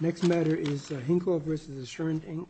Next matter is Hinkle v. Assurant Inc.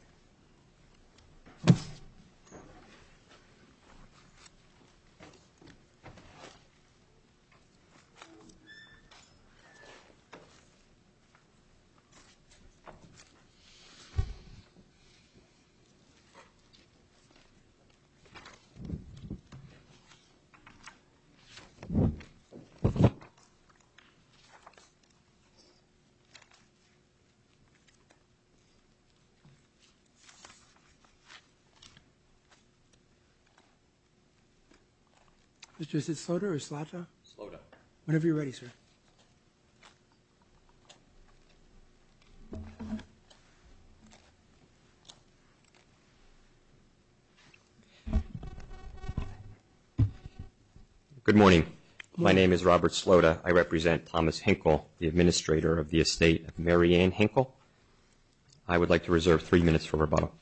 Mr. Slota, whenever you're ready, sir. Good morning. My name is Robert Slota. I represent Thomas Hinkle, the administrator of the estate of Mary Ann Hinkle. I would like to reserve three minutes for rebuttal.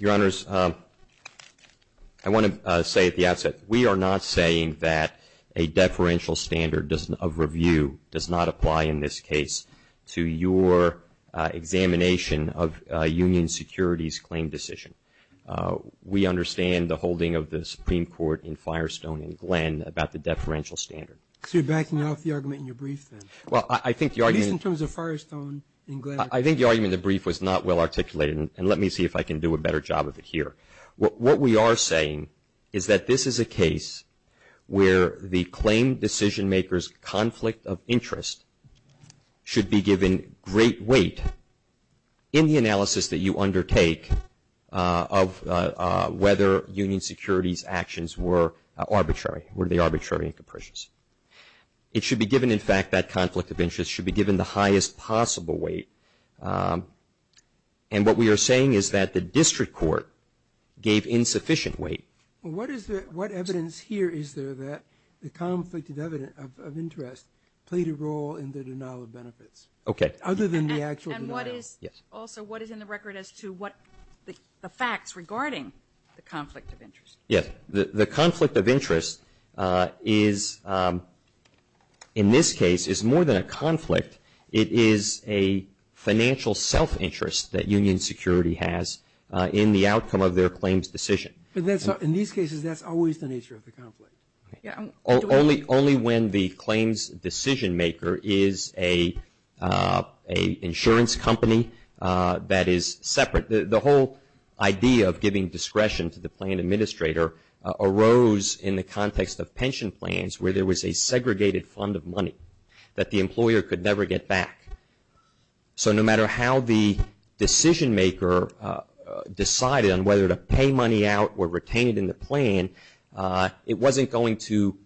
Your Honors, I want to say at the outset, we are not saying that a deferential standard of review does not apply in this case to your examination of a union securities claim decision. We understand the holding of the Supreme Court in Firestone and Glenn about the deferential standard. So you're backing off the argument in your brief, then, at least in terms of Firestone and Glenn? I think the argument in the brief was not well articulated, and let me see if I can do a better job of it here. What we are saying is that this is a case where the claim decisionmaker's conflict of interest should be given great weight in the analysis that you undertake of whether union securities actions were arbitrary, were they arbitrary and capricious. It should be given, in fact, that conflict of interest should be given the highest possible weight, and what we are saying is that the district court gave insufficient weight. What evidence here is there that the conflict of interest played a role in the denial of benefits? Okay. Other than the actual denial. And what is also, what is in the record as to what the facts regarding the conflict of interest? Yes. The conflict of interest is, in this case, is more than a conflict. It is a financial self-interest that union security has in the outcome of their claims decision. In these cases, that is always the nature of the conflict. Only when the claims decisionmaker is an insurance company that is separate. The whole idea of giving discretion to the plan administrator arose in the context of pension plans where there was a segregated fund of money that the employer could never get back. So, no matter how the decisionmaker decided on whether to pay money out or retain it in the plan, it wasn't going to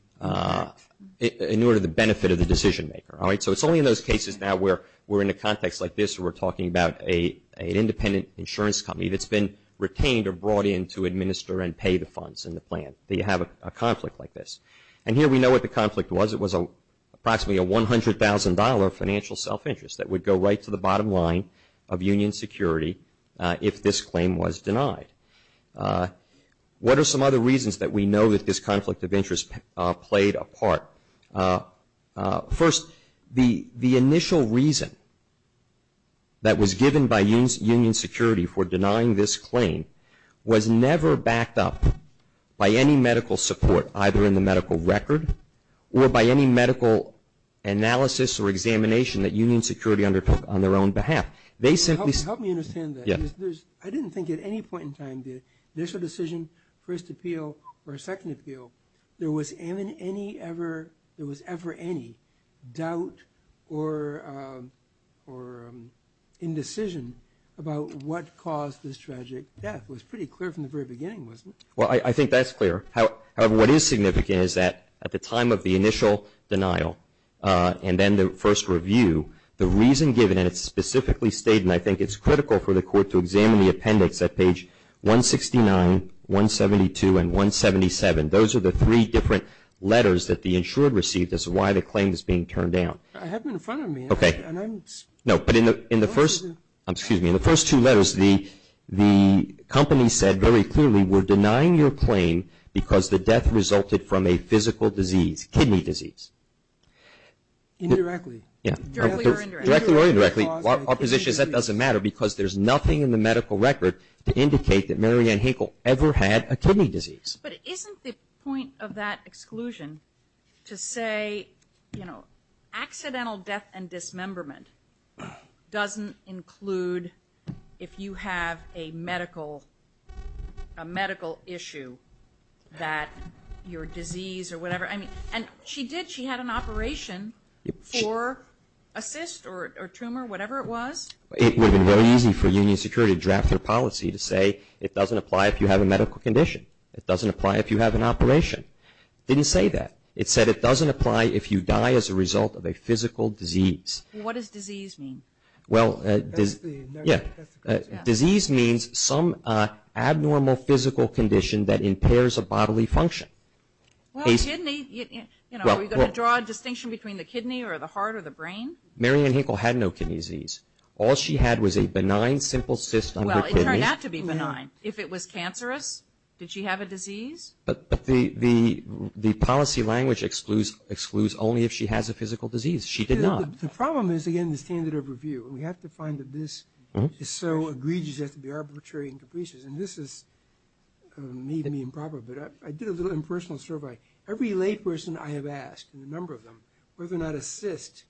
in order to benefit the decisionmaker. All right? So, it is only in those cases now where we are in a context like this where we are talking about an independent insurance company that has been retained or brought in to administer and pay the funds in the plan that you have a conflict like this. And here we know what the conflict was. It was approximately a $100,000 financial self-interest that would go right to the bottom line of union security if this claim was denied. What are some other reasons that we know that this conflict of interest played a part? First, the initial reason that was given by union security for denying this claim was never backed up by any medical support either in the medical record or by any medical analysis or examination that union security undertook on their own behalf. They simply said… Help me understand that. I didn't think at any point in time that initial decision, first appeal or second appeal, there was ever any doubt or indecision about what caused this tragic death. It was pretty clear from the very beginning, wasn't it? Well, I think that's clear. However, what is significant is that at the time of the initial denial and then the first review, the reason given, and it's specifically stated, and I think it's critical for the court to examine the appendix at page 169, 172, and 177. Those are the three different letters that the insured received as to why the claim is being turned down. I have them in front of me. Okay. And I'm… No. But in the first two letters, the company said very clearly, we're denying your claim because the death resulted from a physical disease, kidney disease. Indirectly. Yeah. Directly or indirectly. Directly or indirectly. Our position is that doesn't matter because there's nothing in the medical record to indicate that Marianne Hinkle ever had a kidney disease. But isn't the point of that exclusion to say, you know, accidental death and dismemberment doesn't include if you have a medical issue that your disease or whatever, I mean, and she did, she had an operation for a cyst or tumor, whatever it was. It would have been very easy for Union Security to draft their policy to say it doesn't apply if you have a medical condition. It doesn't apply if you have an operation. It didn't say that. It said it doesn't apply if you die as a result of a physical disease. What does disease mean? Well, disease means some abnormal physical condition that impairs a bodily function. Well, kidney, you know, are we going to draw a distinction between the kidney or the heart or the brain? Marianne Hinkle had no kidney disease. All she had was a benign simple cyst on her kidney. Well, it turned out to be benign. If it was cancerous, did she have a disease? But the policy language excludes only if she has a physical disease. She did not. The problem is, again, the standard of review. We have to find that this is so egregious, it has to be arbitrary and capricious. And this is maybe improper, but I did a little impersonal survey. Every layperson I have asked, and a number of them, whether or not a cyst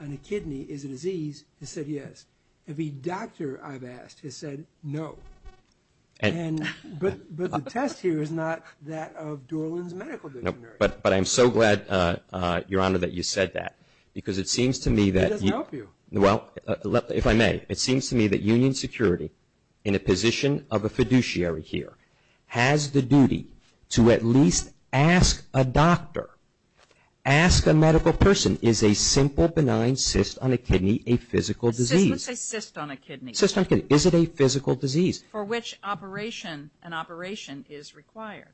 on a kidney is a disease, has said yes. Every doctor I've asked has said no. But the test here is not that of Dorland's medical dictionary. But I'm so glad, Your Honor, that you said that. Because it seems to me that you- It doesn't help you. Well, if I may, it seems to me that Union Security, in a position of a fiduciary here, has the duty to at least ask a doctor, ask a medical person, is a simple benign cyst on a kidney a physical disease? Let's say cyst on a kidney. Cyst on a kidney. Is it a physical disease? For which operation, an operation is required.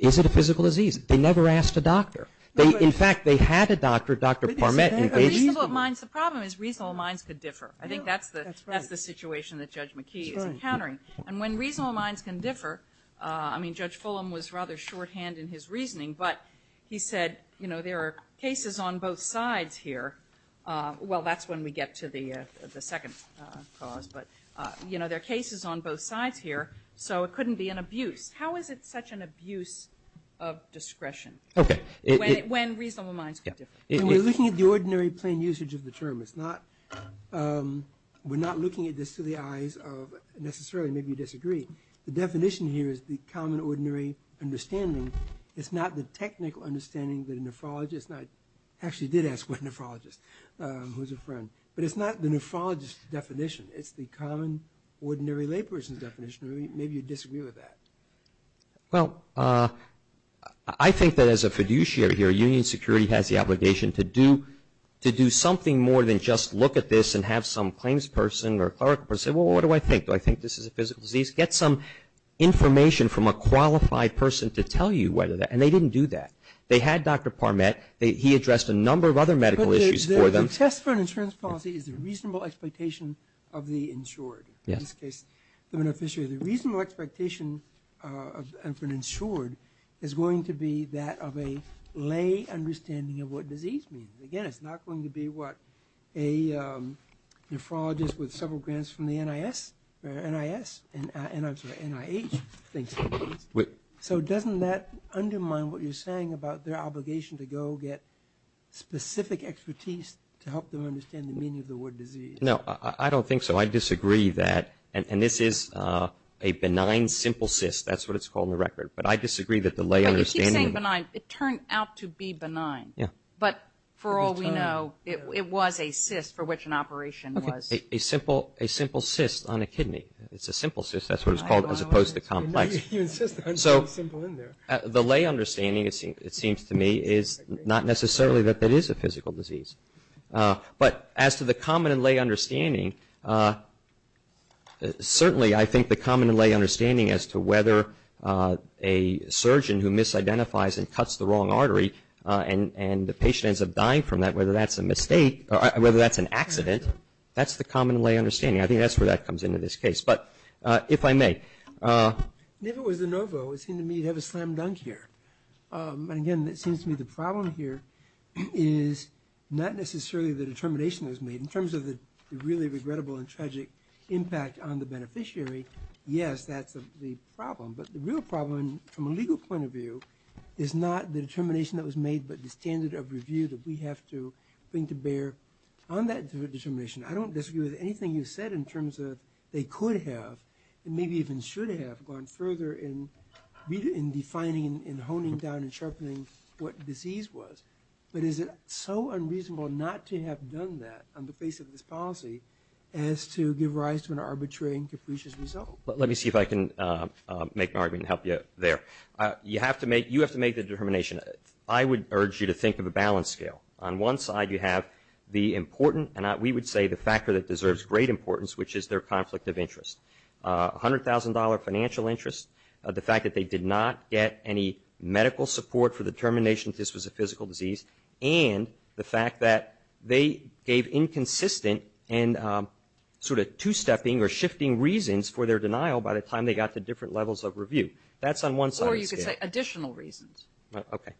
Is it a physical disease? They never asked a doctor. In fact, they had a doctor, Dr. Parmet, engage- Reasonable minds. The problem is reasonable minds could differ. I think that's the situation that Judge McKee is encountering. And when reasonable minds can differ, I mean, Judge Fulham was rather shorthand in his reasoning, but he said, you know, there are cases on both sides here. Well, that's when we get to the second cause. But, you know, there are cases on both sides here, so it couldn't be an abuse. How is it such an abuse of discretion when reasonable minds can differ? When we're looking at the ordinary plain usage of the term, it's not- we're not looking at this to the eyes of necessarily maybe you disagree. The definition here is the common ordinary understanding. It's not the technical understanding that a nephrologist might- who's a friend. But it's not the nephrologist's definition. It's the common ordinary layperson's definition. Maybe you disagree with that. Well, I think that as a fiduciary here, Union Security has the obligation to do something more than just look at this and have some claims person or clerical person say, well, what do I think? Do I think this is a physical disease? Get some information from a qualified person to tell you whether that- and they didn't do that. They had Dr. Parmet. He addressed a number of other medical issues. The test for an insurance policy is the reasonable expectation of the insured. In this case, the beneficiary. The reasonable expectation of an insured is going to be that of a lay understanding of what disease means. Again, it's not going to be what a nephrologist with several grants from the NIS- or NIS- and I'm sorry, NIH thinks it is. So doesn't that undermine what you're saying about their obligation to go get specific expertise to help them understand the meaning of the word disease? No, I don't think so. I disagree that- and this is a benign simple cyst. That's what it's called in the record. But I disagree that the lay understanding- But you keep saying benign. It turned out to be benign. Yeah. But for all we know, it was a cyst for which an operation was- A simple cyst on a kidney. It's a simple cyst. That's what it's called as opposed to complex. You insist on putting simple in there. The lay understanding, it seems to me, is not necessarily that it is a physical disease. But as to the common and lay understanding, certainly I think the common and lay understanding as to whether a surgeon who misidentifies and cuts the wrong artery and the patient ends up dying from that, whether that's a mistake or whether that's an accident, that's the common and lay understanding. I think that's where that comes into this case. But if I may- If it was de novo, it seemed to me you'd have a slam dunk here. And again, it seems to me the problem here is not necessarily the determination that was made. In terms of the really regrettable and tragic impact on the beneficiary, yes, that's the problem. But the real problem from a legal point of view is not the determination that was made but the standard of review that we have to bring to bear on that determination. I don't disagree with anything you said in terms of they could have and maybe even should have gone further in defining and honing down and sharpening what disease was. But is it so unreasonable not to have done that on the face of this policy as to give rise to an arbitrary and capricious result? Let me see if I can make an argument and help you there. You have to make the determination. I would urge you to think of a balance scale. On one side, you have the important, and we would say the factor that deserves great importance, which is their conflict of interest. $100,000 financial interest, the fact that they did not get any medical support for the determination that this was a physical disease, and the fact that they gave inconsistent and sort of two-stepping or shifting reasons for their denial by the time they got to different levels of review. That's on one side of the scale. Or you could say additional reasons. Okay.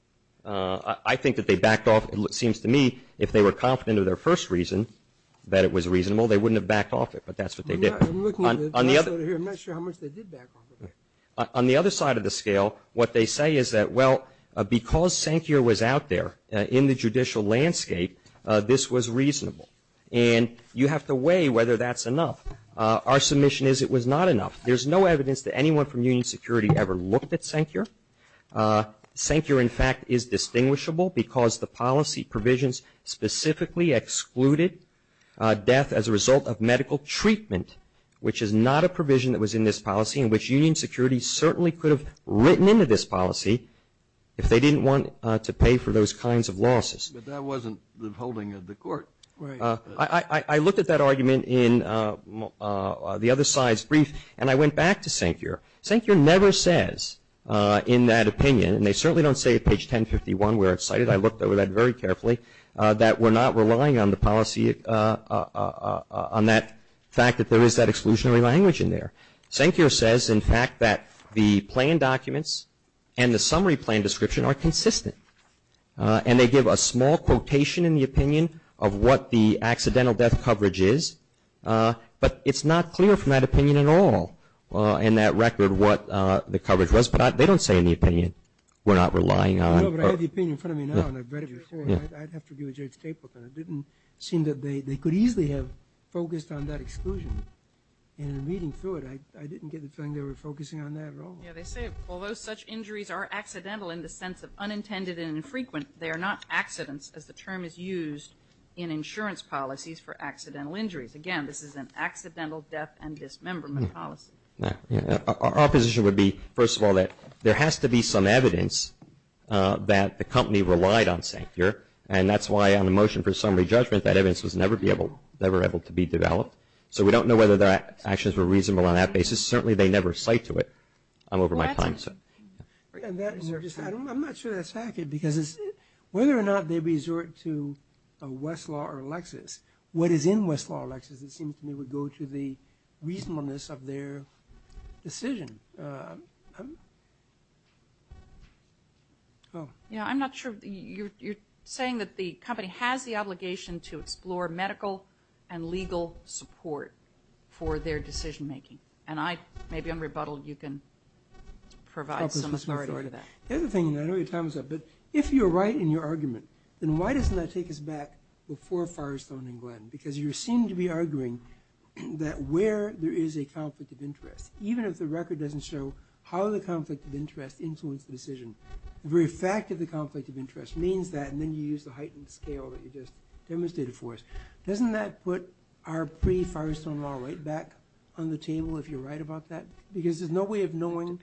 I think that they backed off, it seems to me, if they were confident of their first reason that it was reasonable, they wouldn't have backed off it. But that's what they did. I'm looking at the chart here, I'm not sure how much they did back off of it. On the other side of the scale, what they say is that, well, because Sankir was out there in the judicial landscape, this was reasonable. And you have to weigh whether that's enough. Our submission is it was not enough. There's no evidence that anyone from Union Security ever looked at Sankir. Sankir, in fact, is distinguishable because the policy provisions specifically excluded death as a result of medical treatment, which is not a provision that was in this policy, and which Union Security certainly could have written into this policy if they didn't want to pay for those kinds of losses. But that wasn't the holding of the court. Right. I looked at that argument in the other side's brief, and I went back to Sankir. Sankir never says in that opinion, and they certainly don't say at page 1051, we're excited, I looked over that very carefully, that we're not relying on the policy, on that fact that there is that exclusionary language in there. Sankir says, in fact, that the plan documents and the summary plan description are consistent, and they give a small quotation in the opinion of what the accidental death coverage is, but it's not clear from that opinion at all in that record what the coverage was. But they don't say in the opinion we're not relying on. I know, but I have the opinion in front of me now, and I've read it before, and I'd have to give it to Judge Capelton. It didn't seem that they could easily have focused on that exclusion. And in reading through it, I didn't get the feeling they were focusing on that at all. Yeah, they say, although such injuries are accidental in the sense of unintended and infrequent, they are not accidents, as the term is used in insurance policies for accidental injuries. Again, this is an accidental death and dismemberment policy. Our position would be, first of all, that there has to be some evidence that the company relied on Sankir, and that's why on the motion for summary judgment, that evidence was never able to be developed. So we don't know whether their actions were reasonable on that basis. Certainly, they never cite to it. I'm over my time, so. I'm not sure that's accurate, because whether or not they resort to Westlaw or Lexis, what is in Westlaw or Lexis, it seems to me, would go to the reasonableness of their decision. I'm not sure. You're saying that the company has the obligation to explore medical and legal support for their decision making. And I, maybe I'm rebuttal, you can provide some authority for that. The other thing, and I know your time is up, but if you're right in your argument, because you seem to be arguing that where there is a conflict of interest, even if the record doesn't show how the conflict of interest influenced the decision. The very fact of the conflict of interest means that, and then you use the heightened scale that you just demonstrated for us. Doesn't that put our pre-Firestone Law right back on the table, if you're right about that? Because there's no way of knowing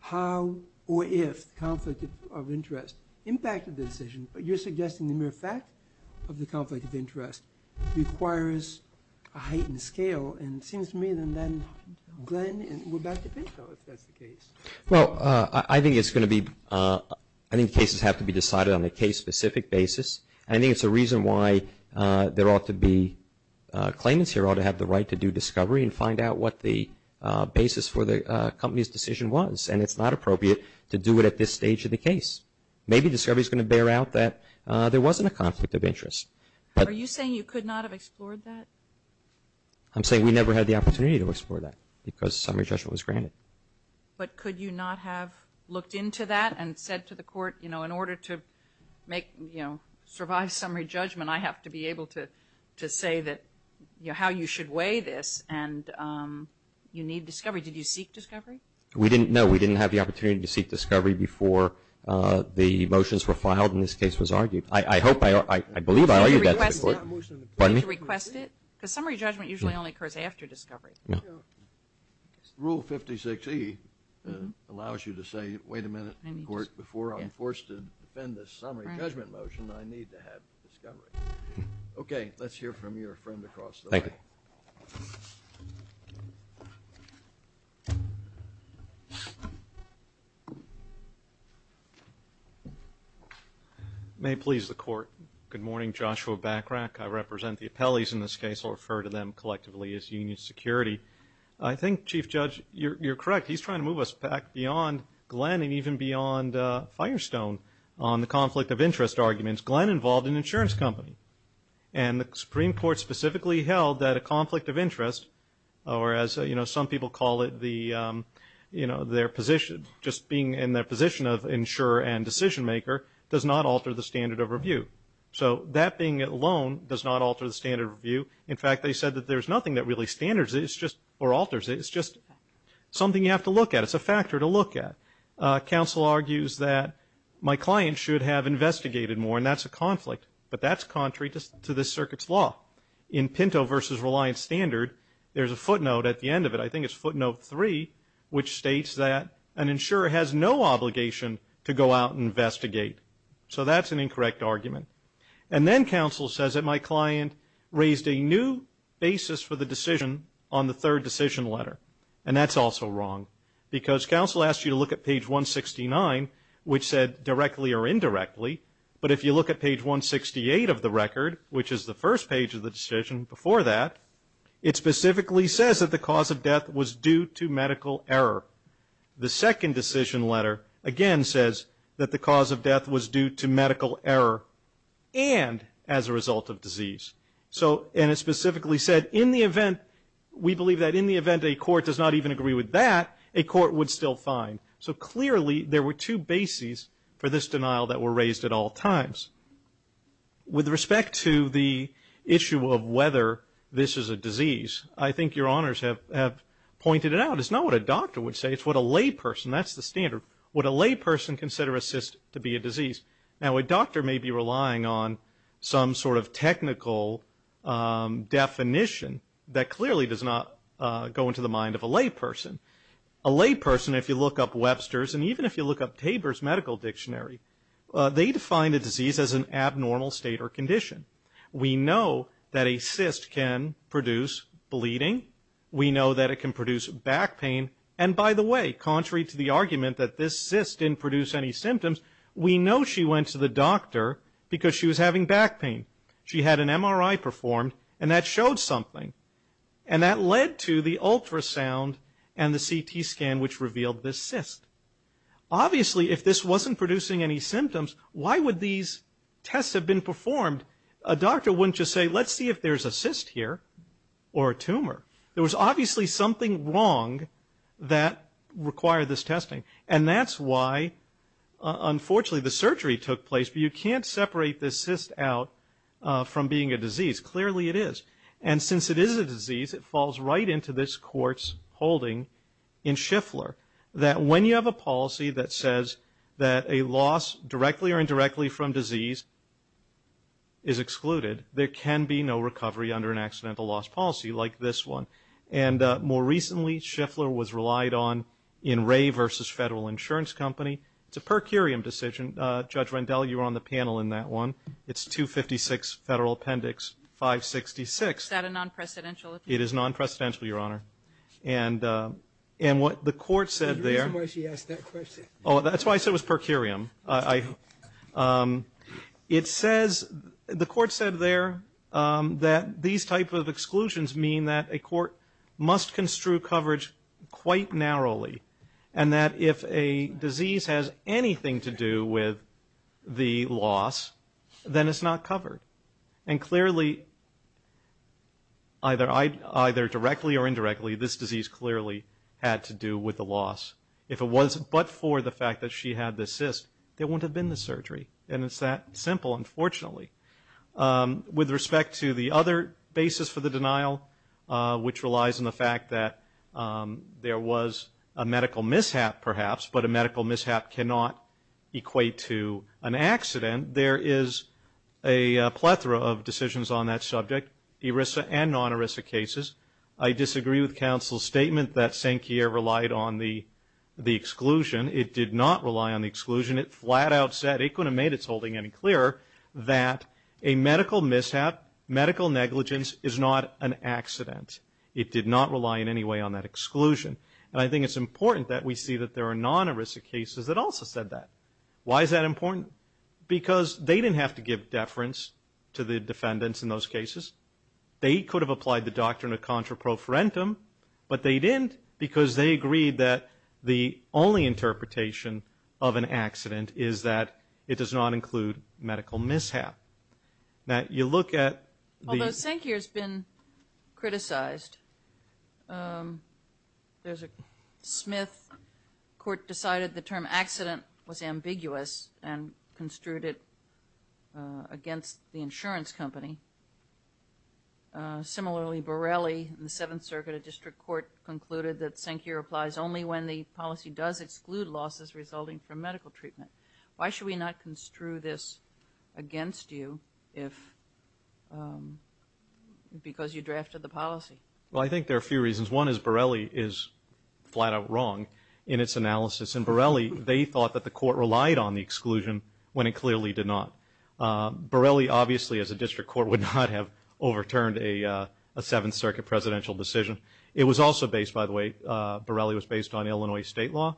how or if the conflict of interest impacted the decision, but you're suggesting the mere fact of the conflict of interest requires a heightened scale. And it seems to me that then, Glenn, we're back to paper if that's the case. Well, I think it's going to be, I think cases have to be decided on a case specific basis. I think it's a reason why there ought to be claimants here ought to have the right to do discovery and find out what the basis for the company's decision was. And it's not appropriate to do it at this stage of the case. Maybe discovery's going to bear out that there wasn't a conflict of interest. Are you saying you could not have explored that? I'm saying we never had the opportunity to explore that, because summary judgment was granted. But could you not have looked into that and said to the court, you know, in order to make, you know, survive summary judgment, I have to be able to say that, you know, how you should weigh this and you need discovery. Did you seek discovery? We didn't, no, we didn't have the opportunity to seek discovery before the motions were filed and this case was argued. I hope, I believe I argued that to the court. Pardon me? Because summary judgment usually only occurs after discovery. No. Rule 56E allows you to say, wait a minute, court, before I'm forced to defend this summary judgment motion, I need to have discovery. Okay, let's hear from your friend across the way. Thank you. May it please the court. Good morning, Joshua Backrack. I represent the appellees in this case. I'll refer to them collectively as Union Security. I think, Chief Judge, you're correct. He's trying to move us back beyond Glenn and even beyond Firestone on the conflict of interest arguments. Glenn involved an insurance company. And the Supreme Court specifically held that a conflict of interest, or as, you know, some people call it the, you know, their position, just being in their position of insurer and decision maker, does not alter the standard of review. So that being it alone does not alter the standard of review. In fact, they said that there's nothing that really standards it, it's just, or alters it, it's just something you have to look at. It's a factor to look at. Counsel argues that my client should have investigated more, and that's a conflict. But that's contrary to this circuit's law. In Pinto versus Reliance Standard, there's a footnote at the end of it. I think it's footnote three, which states that an insurer has no obligation to go out and investigate. So that's an incorrect argument. And then counsel says that my client raised a new basis for the decision on the third decision letter. And that's also wrong. Because counsel asks you to look at page 169, which said directly or indirectly. But if you look at page 168 of the record, which is the first page of the decision before that, it specifically says that the cause of death was due to medical error. The second decision letter, again, says that the cause of death was due to medical error and as a result of disease. So, and it specifically said, in the event, we believe that in the event a court does not even agree with that, a court would still fine. So clearly, there were two bases for this denial that were raised at all times. With respect to the issue of whether this is a disease, I think your honors have pointed it out. It's not what a doctor would say. It's what a layperson, that's the standard, what a layperson considers to be a disease. Now, a doctor may be relying on some sort of technical definition that clearly does not go into the mind of a layperson. A layperson, if you look up Webster's and even if you look up Tabor's medical dictionary, they define a disease as an abnormal state or condition. We know that a cyst can produce bleeding. We know that it can produce back pain. And by the way, contrary to the argument that this cyst didn't produce any symptoms, we know she went to the doctor because she was having back pain. She had an MRI performed and that showed something. And that led to the ultrasound and the CT scan which revealed this cyst. Obviously, if this wasn't producing any symptoms, why would these tests have been performed? A doctor wouldn't just say, let's see if there's a cyst here or a tumor. There was obviously something wrong that required this testing. And that's why, unfortunately, the surgery took place. But you can't separate this cyst out from being a disease. Clearly, it is. And since it is a disease, it falls right into this court's holding in Schiffler that when you have a policy that says that a loss directly or indirectly from disease is excluded, there can be no recovery under an accidental loss policy like this one. And more recently, Schiffler was relied on in Ray versus Federal Insurance Company. It's a per curiam decision. Judge Rendell, you were on the panel in that one. It's 256 Federal Appendix 566. Is that a non-precedential? It is non-precedential, Your Honor. And what the court said there... The reason why she asked that question. Oh, that's why I said it was per curiam. It says, the court said there that these type of exclusions mean that a court must construe coverage quite narrowly. And that if a disease has anything to do with the loss, then it's not covered. And clearly, either directly or indirectly, this disease clearly had to do with the loss. If it was but for the fact that she had the cyst, there wouldn't have been the surgery. And it's that simple, unfortunately. With respect to the other basis for the denial, which relies on the fact that there was a medical mishap, perhaps, but a medical mishap cannot equate to an accident, there is a plethora of decisions on that subject. ERISA and non-ERISA cases. I disagree with counsel's statement that St. Kierre relied on the exclusion. It did not rely on the exclusion. It flat out said... It couldn't have made its holding any clearer that a medical mishap, medical negligence is not an accident. It did not rely in any way on that exclusion. And I think it's important that we see that there are non-ERISA cases that also said that. Why is that important? Because they didn't have to give deference to the defendants in those cases. They could have applied the doctrine of contraprofarentum, but they didn't because they agreed that the only interpretation of an accident is that it does not include medical mishap. Now, you look at the... Although St. Kierre's been criticized. There's a Smith court decided the term accident was ambiguous and construed it against the insurance company. Similarly, Borelli in the Seventh Circuit of District Court concluded that St. Kierre applies only when the policy does exclude losses resulting from medical treatment. Why should we not construe this against you if... Because you drafted the policy. Well, I think there are a few reasons. One is Borelli is flat out wrong in its analysis. And Borelli, they thought that the court relied on the exclusion when it clearly did not. Borelli obviously as a district court would not have overturned a Seventh Circuit presidential decision. It was also based, by the way, Borelli was based on Illinois state law.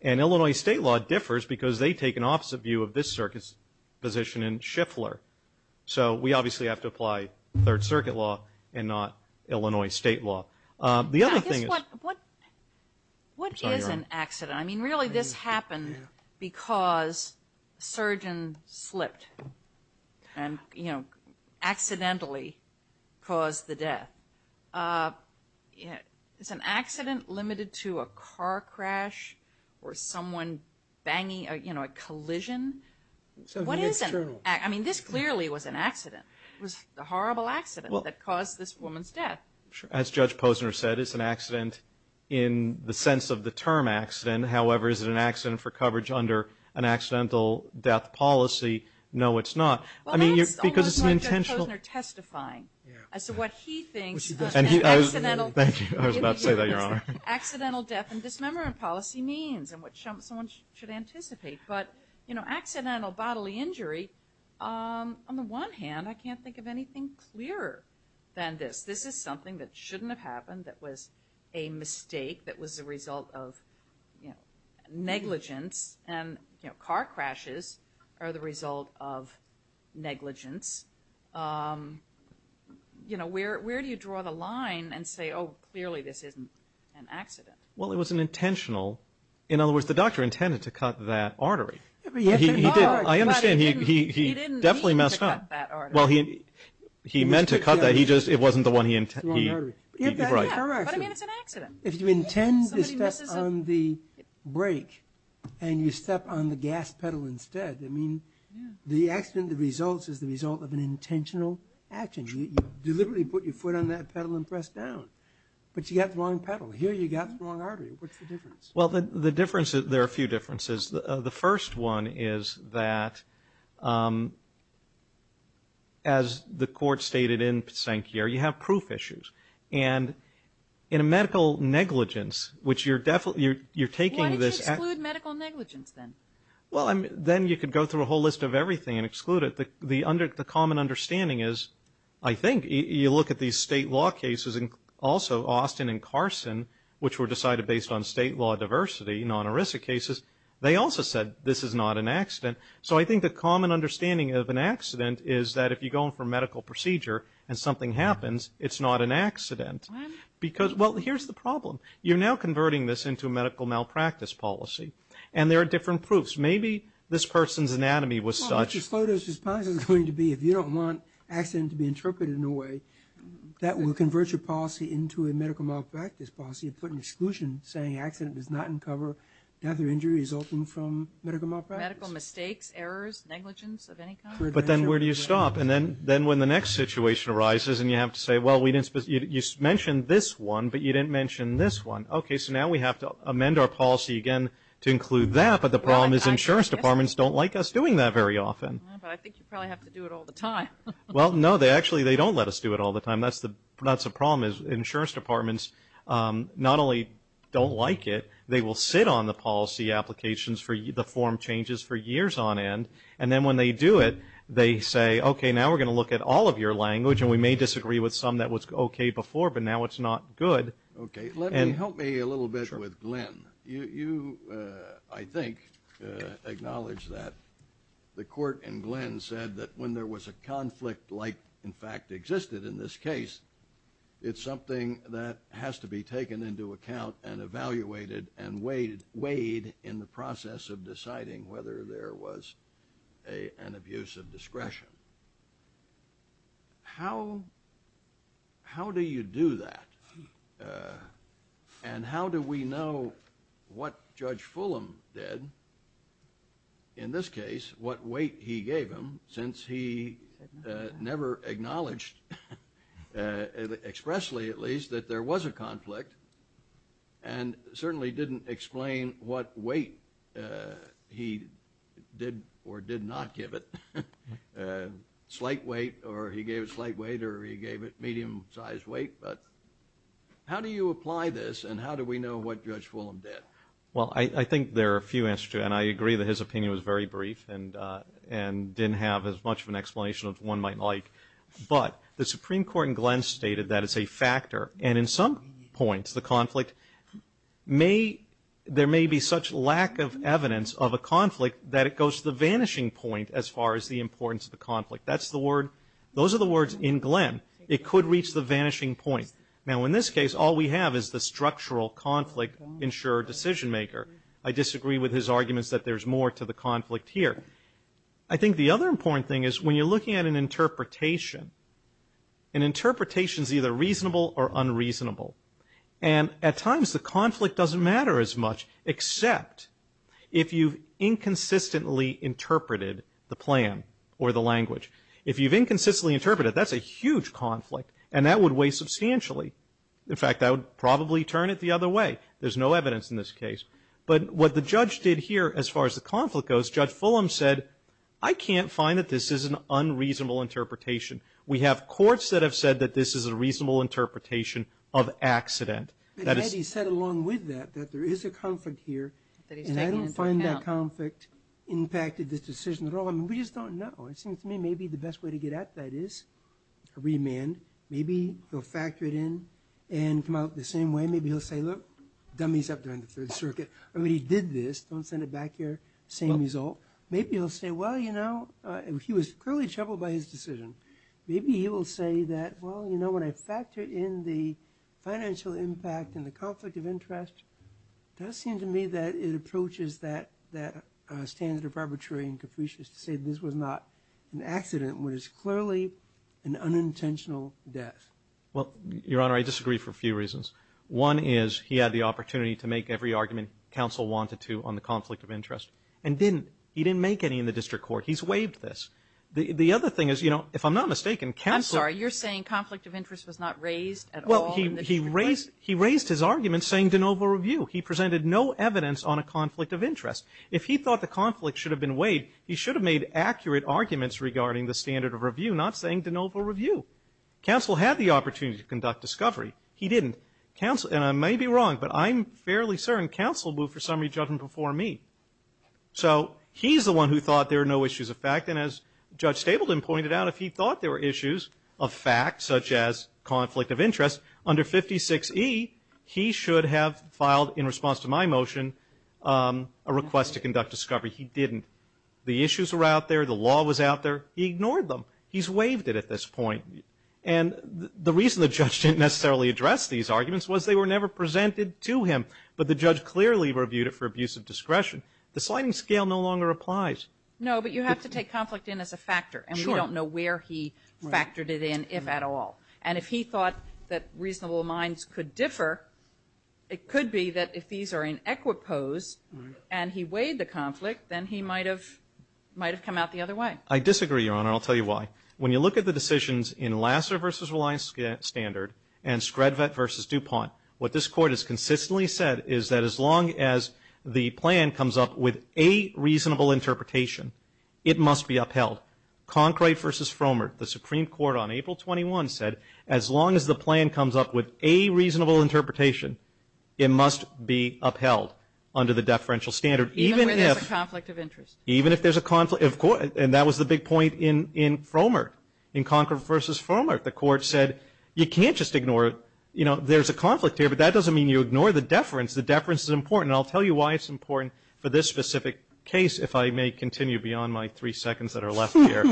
And Illinois state law differs because they take an opposite view of this circuit's position in Schiffler. So we obviously have to apply Third Circuit law and not Illinois state law. The other thing is... What is an accident? I mean, really this happened because a surgeon slipped and, you know, accidentally caused the death. Is an accident limited to a car crash or someone banging, you know, a collision? I mean, this clearly was an accident. As Judge Posner said, it's an accident in the sense of the term accident. However, is it an accident for coverage under an accidental death policy? No, it's not. Well, that's almost like Judge Posner testifying as to what he thinks accidental death and dismemberment policy means and what someone should anticipate. But, you know, accidental bodily injury, on the one hand, I can't think of anything clearer than this. This is something that shouldn't have happened, that was a mistake, that was the result of, you know, negligence. And, you know, car crashes are the result of negligence. You know, where do you draw the line and say, oh, clearly this isn't an accident? Well, it was an intentional... In other words, the doctor intended to cut that artery. I understand he definitely messed up. Well, he meant to cut that. He just, it wasn't the one he intended. The wrong artery. Yeah, but I mean, it's an accident. If you intend to step on the brake and you step on the gas pedal instead, I mean, the accident that results is the result of an intentional action. You deliberately put your foot on that pedal and press down. But you got the wrong pedal. Here you got the wrong artery. What's the difference? Well, the difference, there are a few differences. The first one is that, as the court stated in Pysankyar, you have proof issues. And in a medical negligence, which you're definitely, you're taking this... Why did you exclude medical negligence then? Well, then you could go through a whole list of everything and exclude it. The common understanding is, I think, you look at these state law cases, and also Austin and Carson, which were decided based on state law diversity, non-ERISA cases, they also said this is not an accident. So, I think the common understanding of an accident is that if you go in for a medical procedure and something happens, it's not an accident. Why not? Because, well, here's the problem. You're now converting this into a medical malpractice policy. And there are different proofs. Maybe this person's anatomy was such... Well, Mr. Slotus, his policy is going to be, if you don't want accident to be interpreted in a way, that will convert your policy into a medical malpractice policy and put an exclusion saying accident does not uncover death or injury resulting from medical malpractice. Medical mistakes, errors, negligence of any kind? But then where do you stop? And then when the next situation arises, and you have to say, well, you mentioned this one, but you didn't mention this one. Okay, so now we have to amend our policy again to include that, but the problem is insurance departments don't like us doing that very often. But I think you probably have to do it all the time. Well, no, they actually, they don't let us do it all the time. That's the problem is insurance departments not only don't like it, they will sit on the policy applications for the form changes for years on end. And then when they do it, they say, okay, now we're going to look at all of your language. And we may disagree with some that was okay before, but now it's not good. Okay. Let me, help me a little bit with Glenn. You, I think, acknowledge that the court in Glenn said that when there was a conflict like, in fact, existed in this case, it's something that has to be taken into account and evaluated and weighed in the process of deciding whether there was an abuse of discretion. How, how do you do that? And how do we know what Judge Fulham did, in this case, what weight he gave him since he never acknowledged, expressly at least, that there was a conflict and certainly didn't explain what weight he did or did not give it. Slight weight or he gave it slight weight or he gave it medium-sized weight. But how do you apply this and how do we know what Judge Fulham did? Well, I think there are a few answers to that. And I agree that his opinion was very brief and, and didn't have as much of an explanation as one might like. But the Supreme Court in Glenn stated that it's a factor. And in some points, the conflict may, there may be such lack of evidence of a conflict that it goes to the vanishing point as far as the importance of the conflict. That's the word. Those are the words in Glenn. It could reach the vanishing point. Now, in this case, all we have is the structural conflict-insured decision-maker. I disagree with his arguments that there's more to the conflict here. I think the other important thing is when you're looking at an interpretation, an interpretation's either reasonable or unreasonable. And at times, the conflict doesn't matter as much, except if you've inconsistently interpreted the plan or the language. If you've inconsistently interpreted it, that's a huge conflict. And that would weigh substantially. In fact, that would probably turn it the other way. There's no evidence in this case. But what the judge did here as far as the conflict goes, Judge Fulham said, I can't find that this is an unreasonable interpretation. We have courts that have said that this is a reasonable interpretation of accident. But had he said along with that, that there is a conflict here, and I don't find that conflict impacted this decision at all. I mean, we just don't know. It seems to me maybe the best way to get at that is a remand. Maybe he'll factor it in and come out the same way. Maybe he'll say, look, dummies up there in the Third Circuit. I mean, he did this. Don't send it back here. Same result. Maybe he'll say, well, you know, he was clearly troubled by his decision. Maybe he will say that, well, you know, when I factor in the financial impact and the conflict of interest, it does seem to me that it approaches that standard of arbitrary and capricious to say this was not an accident, which is clearly an unintentional death. Well, Your Honor, I disagree for a few reasons. One is he had the opportunity to make every argument counsel wanted to on the conflict of interest and didn't. He didn't make any in the district court. He's waived this. The other thing is, you know, if I'm not mistaken, counsel- I'm sorry. You're saying conflict of interest was not raised at all in the district court? He raised his argument saying de novo review. He presented no evidence on a conflict of interest. If he thought the conflict should have been waived, he should have made accurate arguments regarding the standard of review, not saying de novo review. Counsel had the opportunity to conduct discovery. He didn't. And I may be wrong, but I'm fairly certain counsel moved for summary judgment before me. So he's the one who thought there are no issues of fact. And as Judge Stableden pointed out, if he thought there were issues of fact, such as conflict of interest, under 56E, he should have filed, in response to my motion, a request to conduct discovery. He didn't. The issues were out there. The law was out there. He ignored them. He's waived it at this point. And the reason the judge didn't necessarily address these arguments was they were never presented to him. But the judge clearly reviewed it for abuse of discretion. The sliding scale no longer applies. No, but you have to take conflict in as a factor. And we don't know where he factored it in, if at all. And if he thought that reasonable minds could differ, it could be that if these are in equipose and he waived the conflict, then he might have come out the other way. I disagree, Your Honor. I'll tell you why. When you look at the decisions in Lasser v. Reliance Standard and Scredvet v. DuPont, what this Court has consistently said is that as long as the plan comes up with a reasonable interpretation, it must be upheld. Concrete v. Frommert, the Supreme Court on April 21 said, as long as the plan comes up with a reasonable interpretation, it must be upheld under the deferential standard. Even where there's a conflict of interest. Even if there's a conflict. Of course. And that was the big point in Frommert, in Concrete v. Frommert. The Court said, you can't just ignore it. You know, there's a conflict here, but that doesn't mean you ignore the deference. The deference is important. And I'll tell you why it's important for this specific case, if I may continue beyond my three seconds that are left here.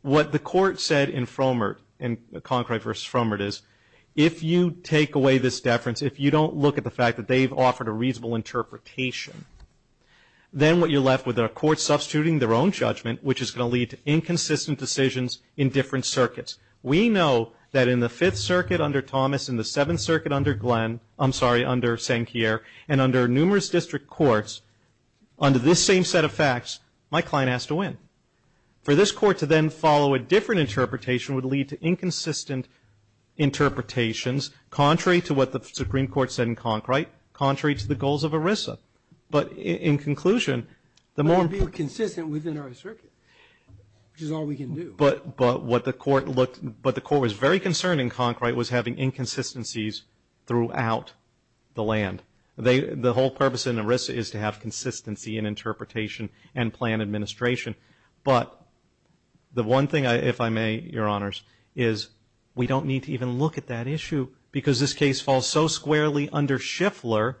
What the Court said in Frommert, in Concrete v. Frommert is, if you take away this deference, if you don't look at the fact that they've offered a reasonable interpretation, then what you're left with are courts substituting their own judgment, which is going to lead to inconsistent decisions in different circuits. We know that in the Fifth Circuit under Thomas, in the Seventh Circuit under Glenn, I'm sorry, under Sankier, and under numerous district courts, under this same set of facts, my client has to win. For this Court to then follow a different interpretation would lead to inconsistent interpretations, contrary to what the Supreme Court said in Concrete, contrary to the goals of ERISA. But in conclusion, the more — But it would be consistent within our circuit, which is all we can do. But what the Court looked — but the Court was very concerned in Concrete was having consistencies throughout the land. The whole purpose in ERISA is to have consistency in interpretation and plan administration. But the one thing, if I may, Your Honors, is we don't need to even look at that issue because this case falls so squarely under Schiffler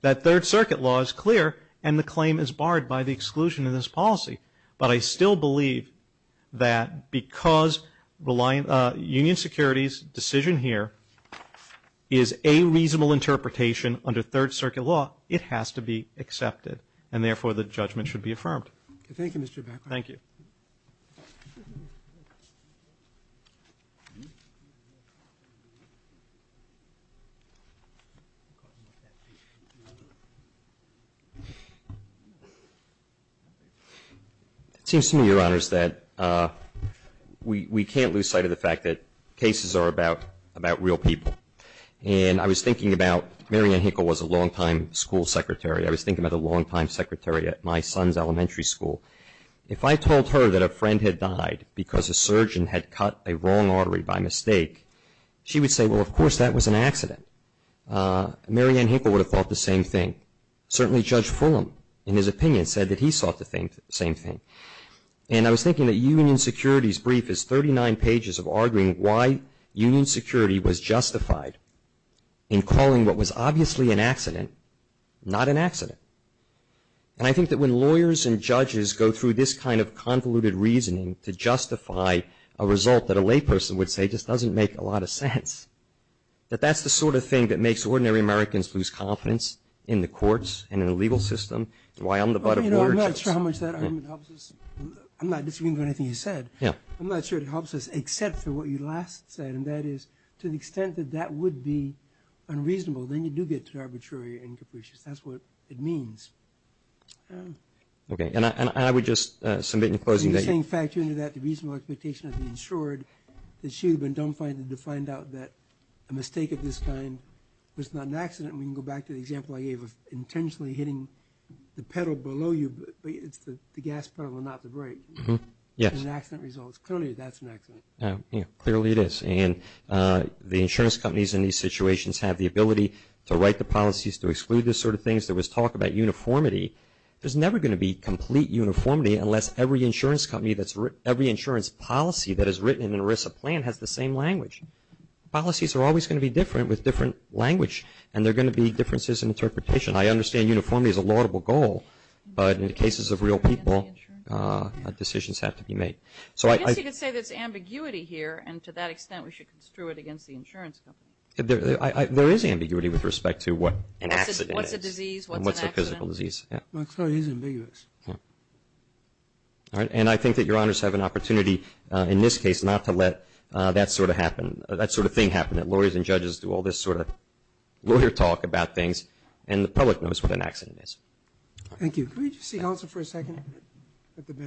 that Third Circuit law is clear and the claim is barred by the exclusion of this policy. But I still believe that because Union Security's decision here is a reasonable interpretation under Third Circuit law, it has to be accepted. And therefore, the judgment should be affirmed. Thank you, Mr. Beckwith. Thank you. It seems to me, Your Honors, that we can't lose sight of the fact that cases are about real people. And I was thinking about — Marianne Hinkle was a longtime school secretary. I was thinking about a longtime secretary at my son's elementary school. If I told her that a friend had died because a surgeon had cut a wrong artery by mistake, she would say, well, of course that was an accident. Marianne Hinkle would have thought the same thing. Certainly, Judge Fulham, in his opinion, said that he thought the same thing. And I was thinking that Union Security's brief is 39 pages of arguing why Union Security was justified in calling what was obviously an accident, not an accident. And I think that when lawyers and judges go through this kind of convoluted reasoning to justify a result that a layperson would say just doesn't make a lot of sense, that that's the sort of thing that makes ordinary Americans lose confidence in the courts and in the legal system. And why I'm the butt of more — Well, you know, I'm not sure how much that argument helps us. I'm not disagreeing with anything you said. Yeah. I'm not sure it helps us except for what you last said, and that is to the extent that that would be unreasonable, then you do get to arbitrary and capricious. That's what it means. Okay. And I would just submit in closing that — In the same fact, you know that the reasonable expectation has been ensured that she would have been dumbfounded to find out that a mistake of this kind was not an accident. And we can go back to the example I gave of intentionally hitting the pedal below you, but it's the gas pedal and not the brake. Mm-hmm. Yes. And an accident results. Clearly, that's an accident. Yeah. Clearly, it is. And the insurance companies in these situations have the ability to write the policies to exclude this sort of things. There was talk about uniformity. There's never going to be complete uniformity unless every insurance company that's — has the same language. Policies are always going to be different with different language, and there are going to be differences in interpretation. I understand uniformity is a laudable goal, but in the cases of real people, decisions have to be made. So I — I guess you could say there's ambiguity here, and to that extent, we should construe it against the insurance company. There is ambiguity with respect to what an accident is. What's a disease, what's an accident. And what's a physical disease. My theory is ambiguous. Yeah. All right. And I think that your honors have an opportunity in this case not to let that sort of happen — that sort of thing happen. That lawyers and judges do all this sort of lawyer talk about things, and the public knows what an accident is. Thank you. Could we just see Houser for a second at the bench?